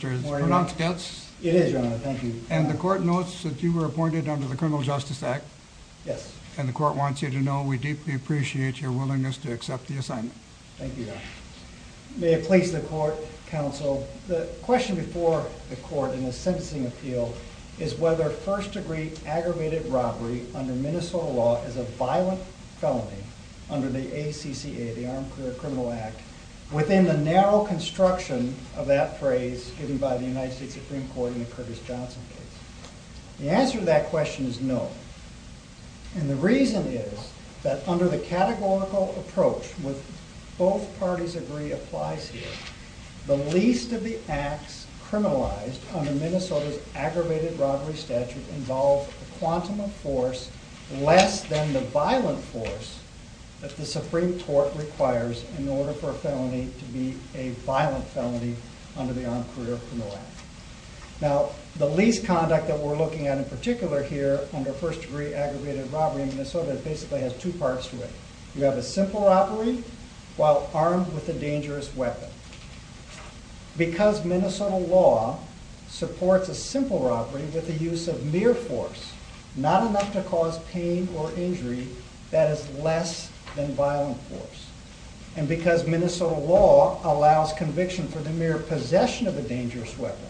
It is your honor, thank you. And the court notes that you were appointed under the Criminal Justice Act. Yes. And the court wants you to know we deeply appreciate your willingness to accept the assignment. Thank you, your honor. May it please the court, counsel. The question before the court in the sentencing appeal is whether first degree aggravated robbery under Minnesota law is a violent felony under the ACCA, the Armed Career Criminal Act. Within the narrow construction of that phrase given by the United States Supreme Court in the Curtis Johnson case. The answer to that question is no. And the reason is that under the categorical approach with both parties agree applies here. The least of the acts criminalized under Minnesota's aggravated robbery statute involve a quantum of force less than the violent force that the Supreme Court requires in order for a felony to be a violent felony under the Armed Career Criminal Act. Now the least conduct that we're looking at in particular here under first degree aggravated robbery in Minnesota basically has two parts to it. You have a simple robbery while armed with a dangerous weapon. Because Minnesota law supports a simple robbery with the use of mere force, not enough to cause pain or injury, that is less than violent force. And because Minnesota law allows conviction for the mere possession of a dangerous weapon,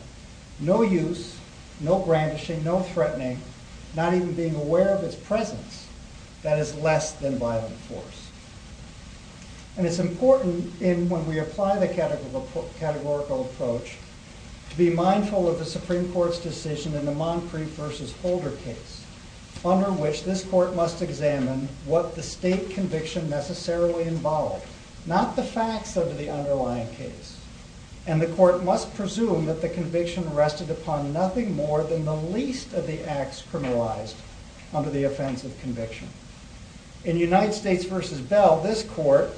no use, no brandishing, no threatening, not even being aware of its presence, that is less than violent force. And it's important when we apply the categorical approach to be mindful of the Supreme Court's decision in the Moncrief v. Holder case under which this court must examine what the state conviction necessarily involved, not the facts of the underlying case. And the court must presume that the conviction rested upon nothing more than the least of the acts criminalized under the offense of conviction. In United States v. Bell, this court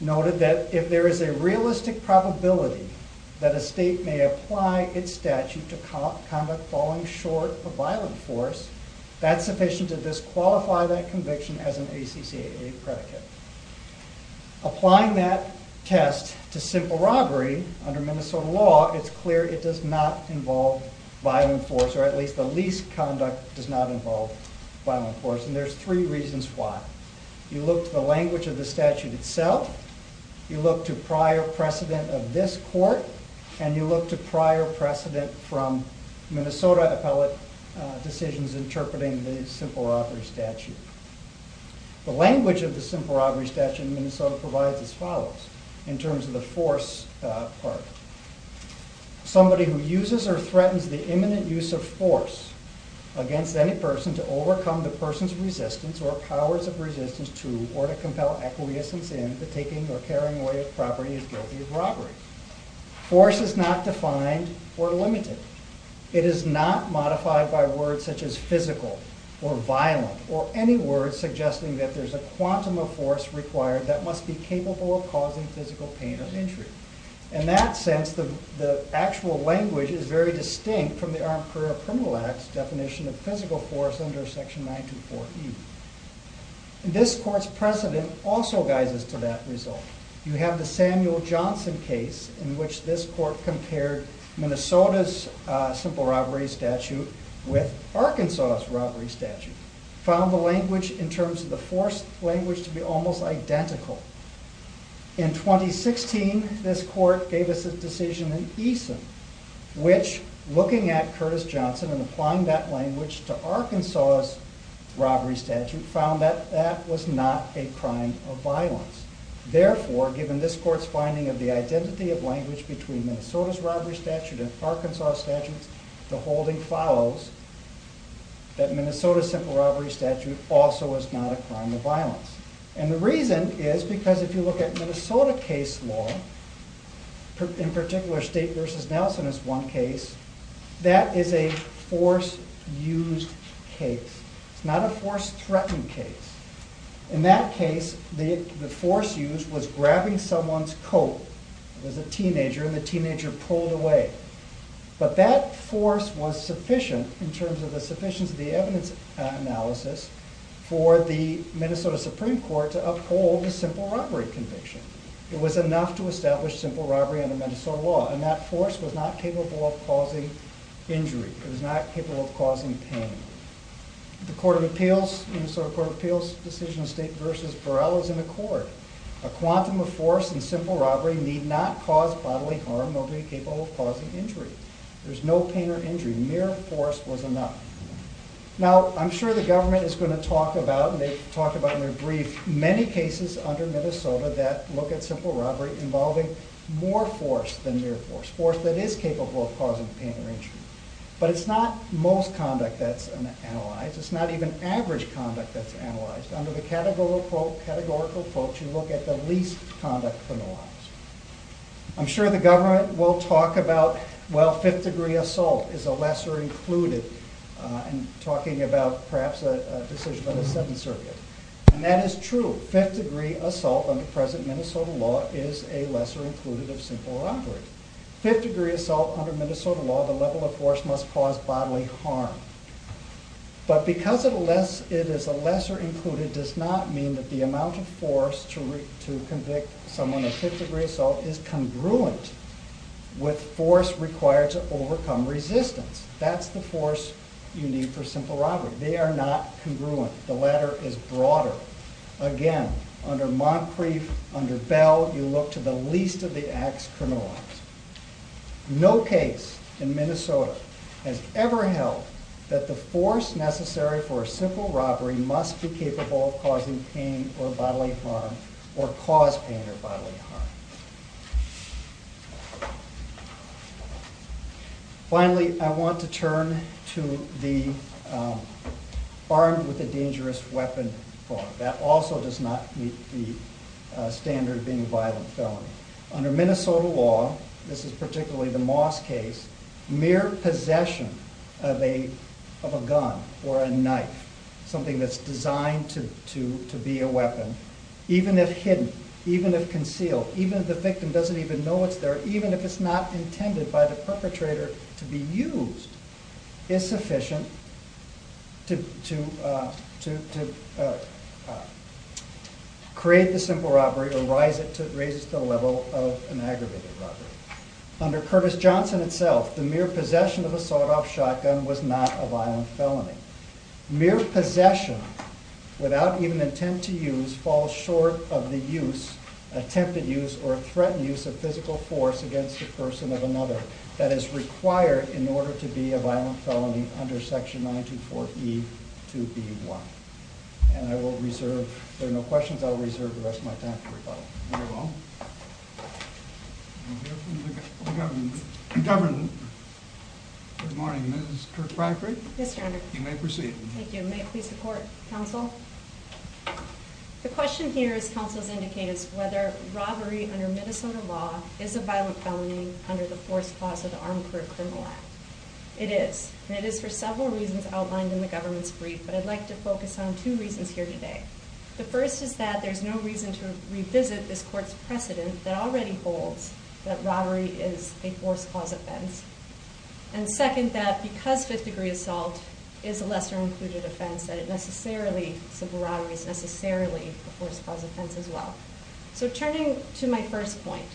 noted that if there is a realistic probability that a state may apply its statute to conduct falling short of violent force, that's sufficient to disqualify that conviction as an ACCAA predicate. Applying that test to simple robbery under Minnesota law, it's clear it does not involve violent force, or at least the least conduct does not involve violent force. And there's three reasons why. You look to the language of the statute itself, you look to prior precedent of this court, and you look to prior precedent from Minnesota appellate decisions interpreting the simple robbery statute. The language of the simple robbery statute in Minnesota provides as follows, in terms of the force part. Somebody who uses or threatens the imminent use of force against any person to overcome the person's resistance or powers of resistance to, or to compel acquiescence in, the taking or carrying away of property is guilty of robbery. Force is not defined or limited. It is not modified by words such as physical, or violent, or any words suggesting that there's a quantum of force required that must be capable of causing physical pain or injury. In that sense, the actual language is very distinct from the Armed Career Criminal Act's definition of physical force under section 924E. This court's precedent also guises to that result. You have the Samuel Johnson case in which this court compared Minnesota's simple robbery statute with Arkansas's robbery statute, found the language in terms of the force language to be almost identical. In 2016, this court gave us a decision in Eason which, looking at Curtis Johnson and applying that language to Arkansas's robbery statute, found that that was not a crime of violence. Therefore, given this court's finding of the identity of language between Minnesota's robbery statute and Arkansas's statute, the holding follows that Minnesota's simple robbery statute also is not a crime of violence. And the reason is because if you look at Minnesota case law, in particular State v. Nelson is one case, that is a force-used case. It's not a force-threatened case. In that case, the force used was grabbing someone's coat as a teenager and the teenager pulled away. But that force was sufficient in terms of the sufficiency of the evidence analysis for the Minnesota Supreme Court to uphold the simple robbery conviction. It was enough to establish simple robbery under Minnesota law and that force was not capable of causing injury. It was not a force-threatened case. The Minnesota Appeals Decision of State v. Burrell is in accord. A quantum of force in simple robbery need not cause bodily harm, nor be it capable of causing injury. There's no pain or injury. Mere force was enough. Now, I'm sure the government is going to talk about, and they've talked about in their brief, many cases under Minnesota that look at simple robbery involving more force than mere force, force that is capable of causing pain or injury. But it's not most conduct that's analyzed. It's not even average conduct that's analyzed. Under the categorical quotes, you look at the least conduct from the lines. I'm sure the government will talk about, well, fifth-degree assault is a lesser included, and talking about perhaps a decision on the Seventh Circuit. And that is true. Fifth-degree assault under present Minnesota law is a lesser included of simple robbery. Fifth-degree assault under Minnesota law, the level of force it is a lesser included does not mean that the amount of force to convict someone of fifth-degree assault is congruent with force required to overcome resistance. That's the force you need for simple robbery. They are not congruent. The latter is broader. Again, under Moncrief, under Bell, you look to the least of the acts criminalized. No case in Minnesota has ever held that the force necessary for a simple robbery must be capable of causing pain or bodily harm or cause pain or bodily harm. Finally, I want to turn to the armed with a dangerous weapon form. That also does not meet the standard of being a violent felon. Under Minnesota law, this is a gun or a knife, something that's designed to be a weapon, even if hidden, even if concealed, even if the victim doesn't even know it's there, even if it's not intended by the perpetrator to be used, is sufficient to create the simple robbery or raise it to the level of an aggravated robbery. Under Curtis Johnson itself, the mere possession of a sawed-off shotgun was not a violent felony. Mere possession, without even an attempt to use, falls short of the use, attempted use, or threatened use of physical force against a person of another that is required in order to be a violent felony under Section 924E2B1. And I will reserve, if there are no questions, I will reserve the rest of my time for rebuttal. Very well. We'll hear from the government. Good morning, Ms. Kirkpatrick. Yes, Your Honor. You may proceed. Thank you. May it please the Court, Counsel? The question here, as Counsel has indicated, is whether robbery under Minnesota law is a violent felony under the Fourth Clause of the Armed Career Criminal Act. It is, and it is for several reasons outlined in the Fifth Degree Assault. First, that it violates this Court's precedent that already holds that robbery is a Fourth Clause offense. And second, that because Fifth Degree Assault is a lesser-included offense, that it necessarily, civil robbery, is necessarily a Fourth Clause offense as well. So turning to my first point,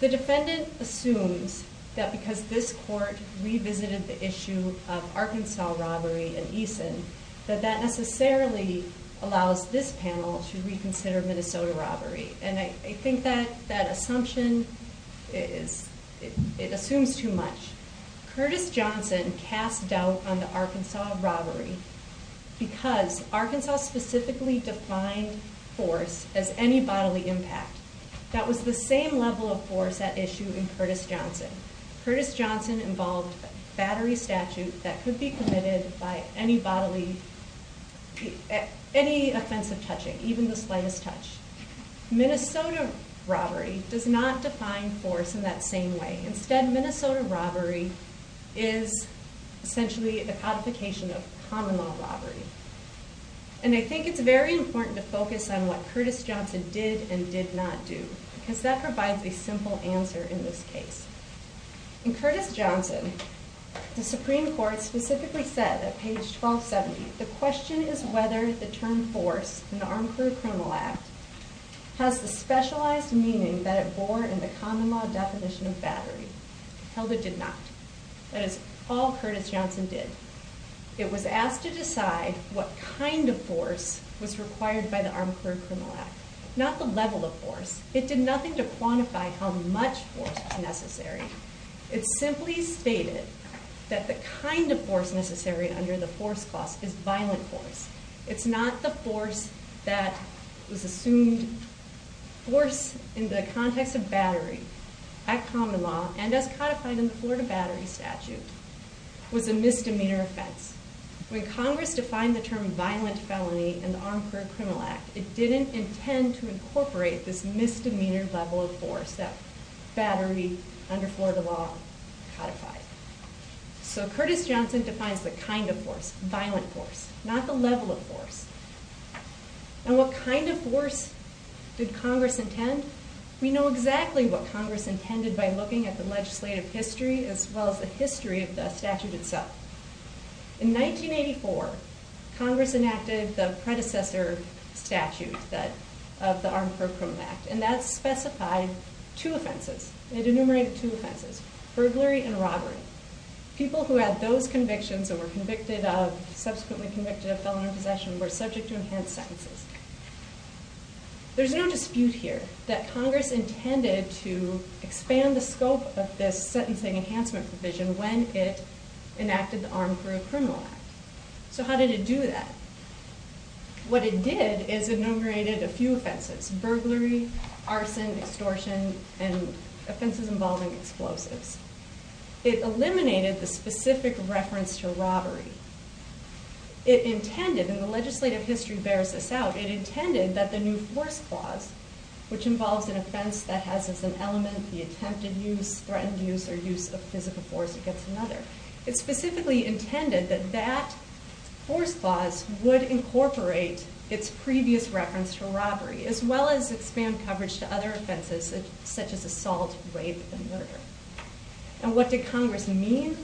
the defendant assumes that because this Court revisited the issue of Arkansas robbery in Eason, that that necessarily allows this panel to reconsider Minnesota robbery. And I think that assumption is, it assumes too much. Curtis Johnson cast doubt on the Arkansas robbery because Arkansas specifically defined force as any bodily impact. That was the same level of force at issue in Curtis Johnson. Curtis Johnson did not get any bodily, any offensive touching, even the slightest touch. Minnesota robbery does not define force in that same way. Instead, Minnesota robbery is essentially a codification of common law robbery. And I think it's very important to focus on what Curtis Johnson did and did not do, because that provides a simple answer in this case. In Curtis Johnson, the Supreme Court specifically said at page 1270, the question is whether the term force in the Armored Criminal Act has the specialized meaning that it bore in the common law definition of battery. Held it did not. That is all Curtis Johnson did. It was asked to decide what kind of force was required by the Armored Criminal Act. Not the level of force. It did nothing to quantify how much force was necessary. It simply stated that the kind of force necessary under the force clause is violent force. It's not the force that was assumed. Force in the context of battery at common law and as codified in the Florida Battery Statute was a misdemeanor offense. When Congress defined the term violent felony in the Armored Criminal Act, it didn't intend to incorporate this misdemeanor level of force that battery under Florida law codified. So Curtis Johnson defines the kind of force, violent force, not the level of force. And what kind of force did Congress intend? We know exactly what Congress intended by looking at the legislative history as well as the history of the statute itself. In 1984, Congress enacted the predecessor statute of the Armored Criminal Act, and that specified two offenses. It enumerated two offenses, burglary and robbery. People who had those convictions or were subsequently convicted of felony possession were subject to enhanced sentences. There's no dispute here that Congress intended to expand the scope of this sentencing enhancement provision when it enacted the Armored Criminal Act. So how did it do that? What it did is enumerated a few offenses, burglary, arson, extortion, and robberies. It eliminated the specific reference to robbery. It intended, and the legislative history bears this out, it intended that the new force clause, which involves an offense that has as an element the attempted use, threatened use, or use of physical force against another, it specifically intended that that force clause would incorporate its previous reference to robbery as well as expand coverage to other offenses such as assault, rape, and murder. And what did Congress mean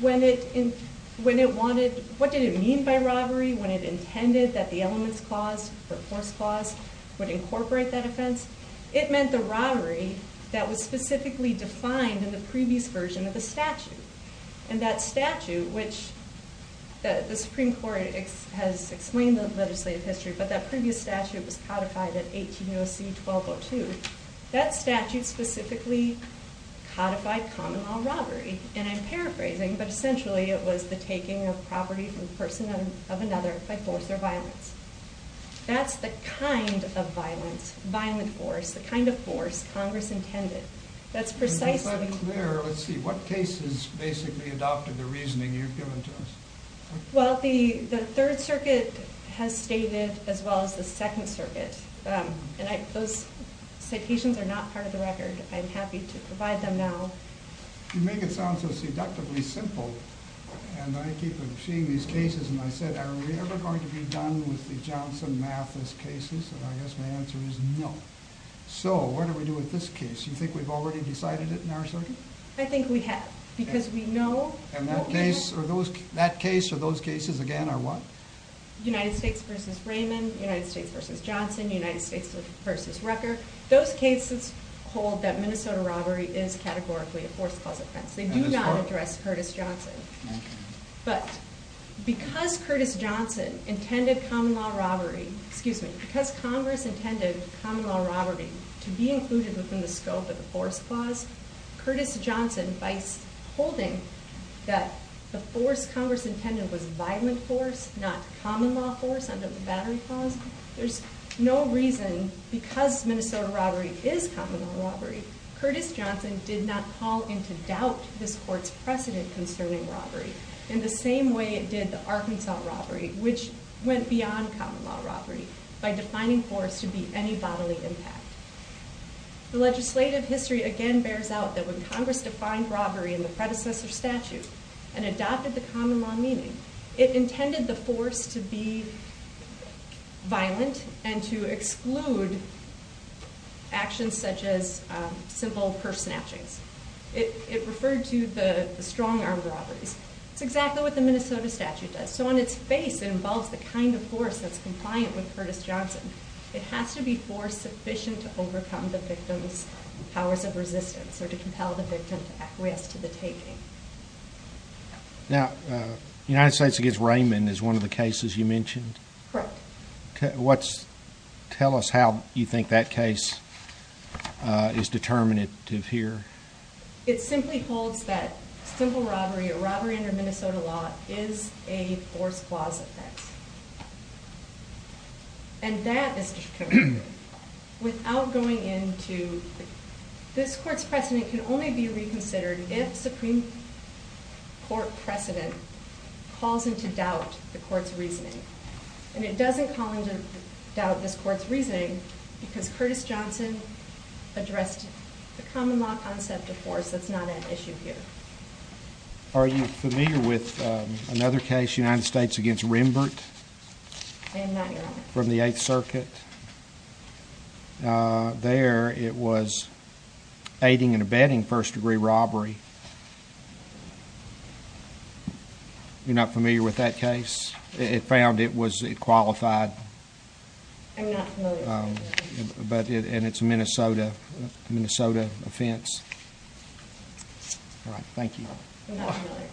when it wanted, what did it mean by robbery when it intended that the elements clause, the force clause, would incorporate that offense? It meant the robbery that was specifically defined in the previous version of the statute. And that statute, which the Supreme Court has explained the legislative history, but that previous statute was codified at 180C-1202, that statute specifically codified common law robbery. And I'm paraphrasing, but essentially it was the taking of property from the person of another by force or violence. That's the kind of violence, violent force, the kind of force Congress intended. That's precisely... And just to be clear, let's see, what cases basically adopted the statute as well as the Second Circuit? And those citations are not part of the record. I'm happy to provide them now. You make it sound so seductively simple, and I keep seeing these cases, and I said, are we ever going to be done with the Johnson Mathis cases? And I guess my answer is no. So what do we do with this case? Do you think we've already decided it in our circuit? I think we have, because we know... And that case or those cases again are what? United States v. Raymond, United States v. Johnson, United States v. Rucker. Those cases hold that Minnesota robbery is categorically a force clause offense. They do not address Curtis Johnson. But because Curtis Johnson intended common law robbery, excuse me, because Congress intended common law robbery to be something that the force Congress intended was violent force, not common law force under the Battery Clause, there's no reason, because Minnesota robbery is common law robbery, Curtis Johnson did not call into doubt his court's precedent concerning robbery in the same way it did the Arkansas robbery, which went beyond common law robbery by defining force to be any bodily impact. The legislative history again bears out that when Congress defined robbery in the predecessor statute and adopted the common law meaning, it intended the force to be violent and to exclude actions such as simple purse snatchings. It referred to the strong arm robberies. It's exactly what the Minnesota statute does. So on its face, it involves the kind of force that's compliant with Curtis Johnson. It has to be force sufficient to overcome the victim's powers of resistance or to compel the victim to acquiesce to the taking. Now, United States v. Raymond is one of the cases you mentioned. Correct. Tell us how you think that case is determinative here. It simply holds that simple robbery or robbery under Minnesota law is a force clause effect. And that, Mr. Chairman, without going into this court's precedent can only be reconsidered if Supreme Court precedent calls into doubt the court's reasoning. And it doesn't call into doubt this court's reasoning because Curtis Johnson addressed the common law concept of force that's not at issue here. Are you familiar with another case, United States v. Rimbert? I am not, Your Honor. From the 8th Circuit. There it was aiding and abetting first degree robbery. You're not familiar with that case? It found it was, it qualified. I'm not familiar. And it's a Minnesota offense. Alright, thank you. I'm not familiar.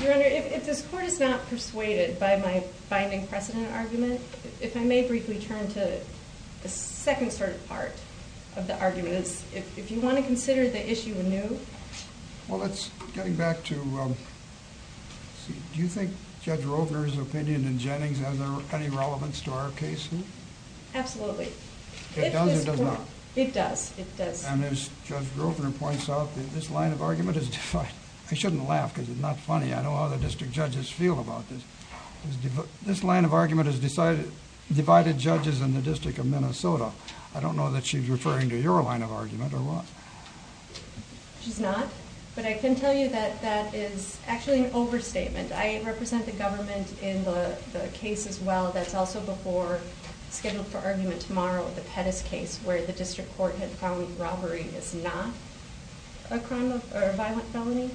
Your Honor, if this court is not persuaded by my binding precedent argument, if I may briefly turn to the second sort of part of the argument. If you want to consider the issue anew. Well, it's getting back to Do you think Judge Grosvenor's opinion in Jennings has any relevance to our case? Absolutely. It does or does not? It does. And as Judge Grosvenor points out, this line of argument is divided. I shouldn't laugh because it's not funny. I know how the district judges feel about this. This line of argument has divided judges in the District of Minnesota. I don't know that she's referring to your line of argument or what. She's not. But I can tell you that that is actually an overstatement. I represent the government in the case as well that's also before scheduled for argument tomorrow, the Pettis case where the district court had found robbery is not a violent felony.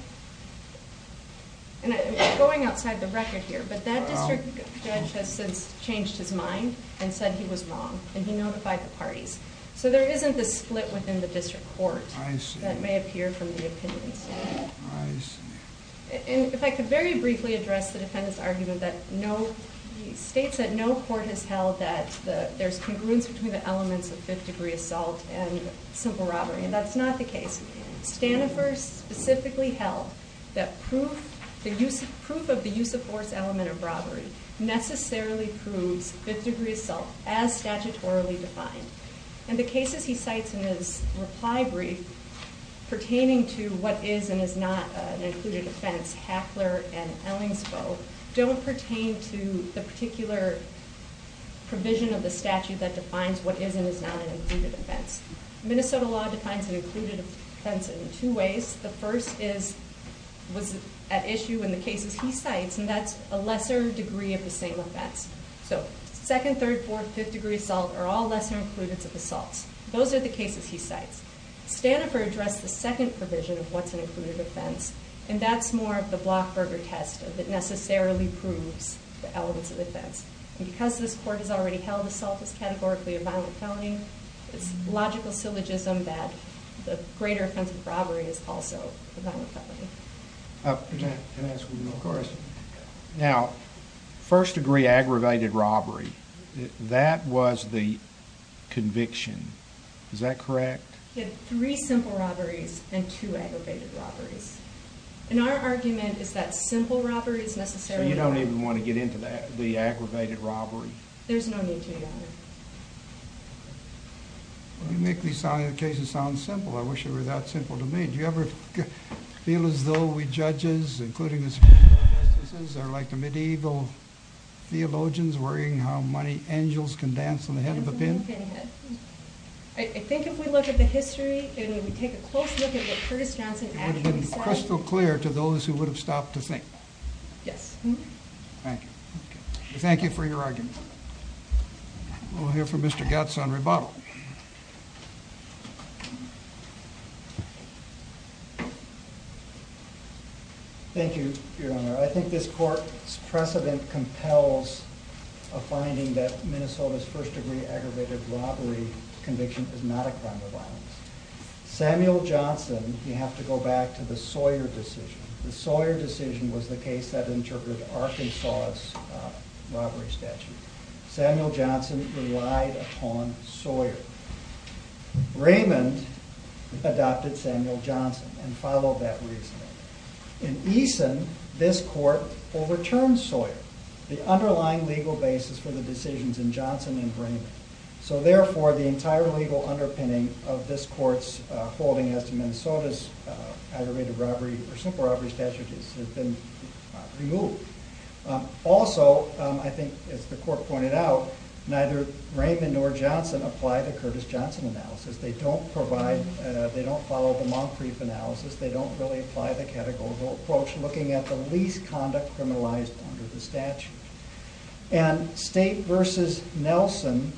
Going outside the record here, but that district judge has since changed his mind and said he was wrong and he notified the parties. So there isn't this split within the district court that may appear from the opinions. If I could very briefly address the defendant's argument that states that no court has held that there's congruence between the elements of 5th degree assault and simple robbery. And that's not the case. Stanifors specifically held that proof of the use of force element of robbery necessarily proves 5th degree assault as statutorily defined. And the cases he cites in his reply brief pertaining to what is and is not an included offense, Hackler and Ellings both, don't pertain to the particular provision of the statute that defines what is and is not an included offense. Minnesota law defines an included offense in two ways. The first is at issue in the cases he cites and that's a lesser degree of the same offense. So 2nd, 3rd, 4th, 5th degree assault are all lesser included of assaults. Those are the cases he cites. Stanifors addressed the second provision of what's an included offense and that's more of the block burger test that necessarily proves the elements of offense. And because this court has already held assault as categorically a violent felony, it's logical syllogism that the greater offense of robbery is also a violent felony. Can I ask one more question? Now, 1st degree aggravated robbery, that was the conviction. Is that correct? You had 3 simple robberies and 2 aggravated robberies. In our argument, is that simple robbery is necessarily... So you don't even want to get into the aggravated robbery? There's no need to, Your Honor. You make these cases sound simple. I wish they were that simple to me. Do you ever feel as though we judges, including the Supreme Court justices, are like the medieval theologians worrying how many angels can dance on the head of a pin? I think if we look at the history and we take a close look at what Curtis Johnson actually said... It would have been crystal clear to those who would have stopped to think. Yes. Thank you. Thank you for your argument. We'll hear from Mr. Gatz on rebuttal. Thank you, Your Honor. I think this court's precedent compels a finding that Minnesota's 1st degree aggravated robbery conviction is not a crime of violence. Samuel Johnson, you have to go back to the Sawyer decision. The Sawyer decision was the case that interpreted Arkansas' robbery statute. Samuel Johnson relied upon Sawyer. Raymond adopted Samuel Johnson and followed that reasoning. In Eason, this court overturned Sawyer, the underlying legal basis for the decisions in Johnson and Raymond. So therefore, the entire legal underpinning of this court's holding as to Minnesota's aggravated robbery statute has been removed. Also, I think as the court pointed out, neither Raymond nor Johnson applied the concrete analysis. They don't really apply the categorical approach looking at the least conduct criminalized under the statute. And State v. Nelson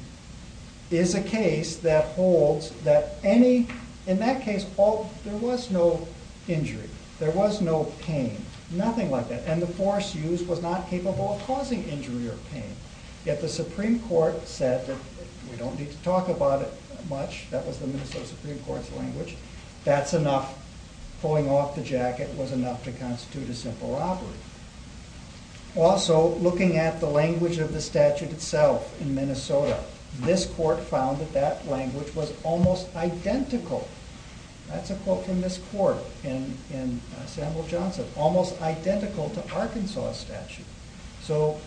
is a case that holds that any... In that case, there was no injury. There was no pain. Nothing like that. And the force used was not capable of causing injury or pain. Yet the Supreme Court said that we don't need to talk about it much. That was the Minnesota Supreme Court's language. That's enough. Pulling off the jacket was enough to constitute a simple robbery. Also, looking at the language of the statute itself in Minnesota, this court found that that language was almost identical. That's a quote from this court in Samuel Johnson. Almost identical to Arkansas' statute. So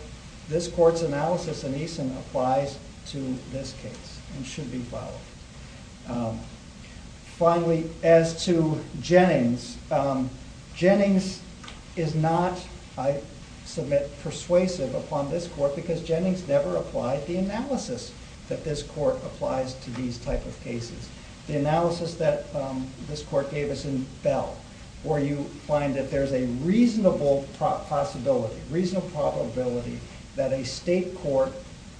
this court's analysis in Eason applies to this case and should be followed. Finally, as to Jennings, Jennings is not, I submit, persuasive upon this court because Jennings never applied the analysis that this court applies to these type of cases. The analysis that this court gave us in a reasonable possibility, reasonable probability, that a state court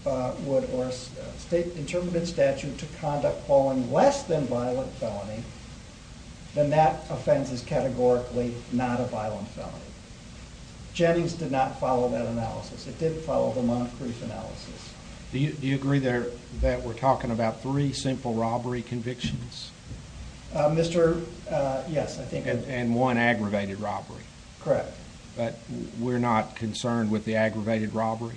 would or a state interpretative statute to conduct falling less than violent felony, then that offense is categorically not a violent felony. Jennings did not follow that analysis. It did follow the non-proof analysis. Do you agree that we're talking about three simple robbery convictions? Yes. And one aggravated robbery. Correct. But we're not concerned with the aggravated robbery?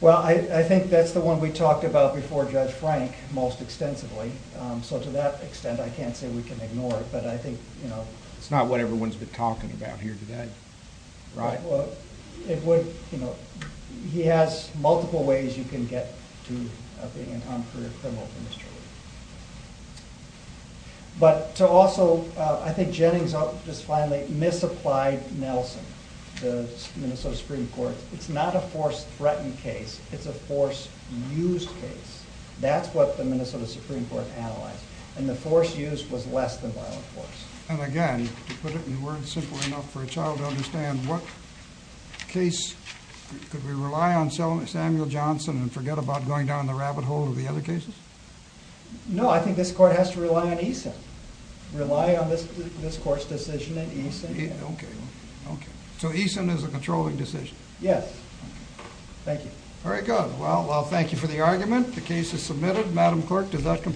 Well, I think that's the one we talked about before Judge Frank most extensively. So to that extent, I can't say we can ignore it, but I think... It's not what everyone's been talking about here today. Right. It would, you know, he has multiple ways you can get to being a non-criminal. But to also, I think Jennings just finally misapplied Nelson to Minnesota Supreme Court. It's not a force threatened case. It's a force used case. That's what the Minnesota Supreme Court analyzed. And the force used was less than violent. Could we rely on Samuel Johnson and forget about going down the rabbit hole of the other cases? No, I think this court has to rely on Eason. Rely on this court's decision and Eason. Okay. So Eason is a controlling decision? Yes. Thank you. Very good. Well, thank you for the argument. The case is submitted. Madam Clerk, does that conclude?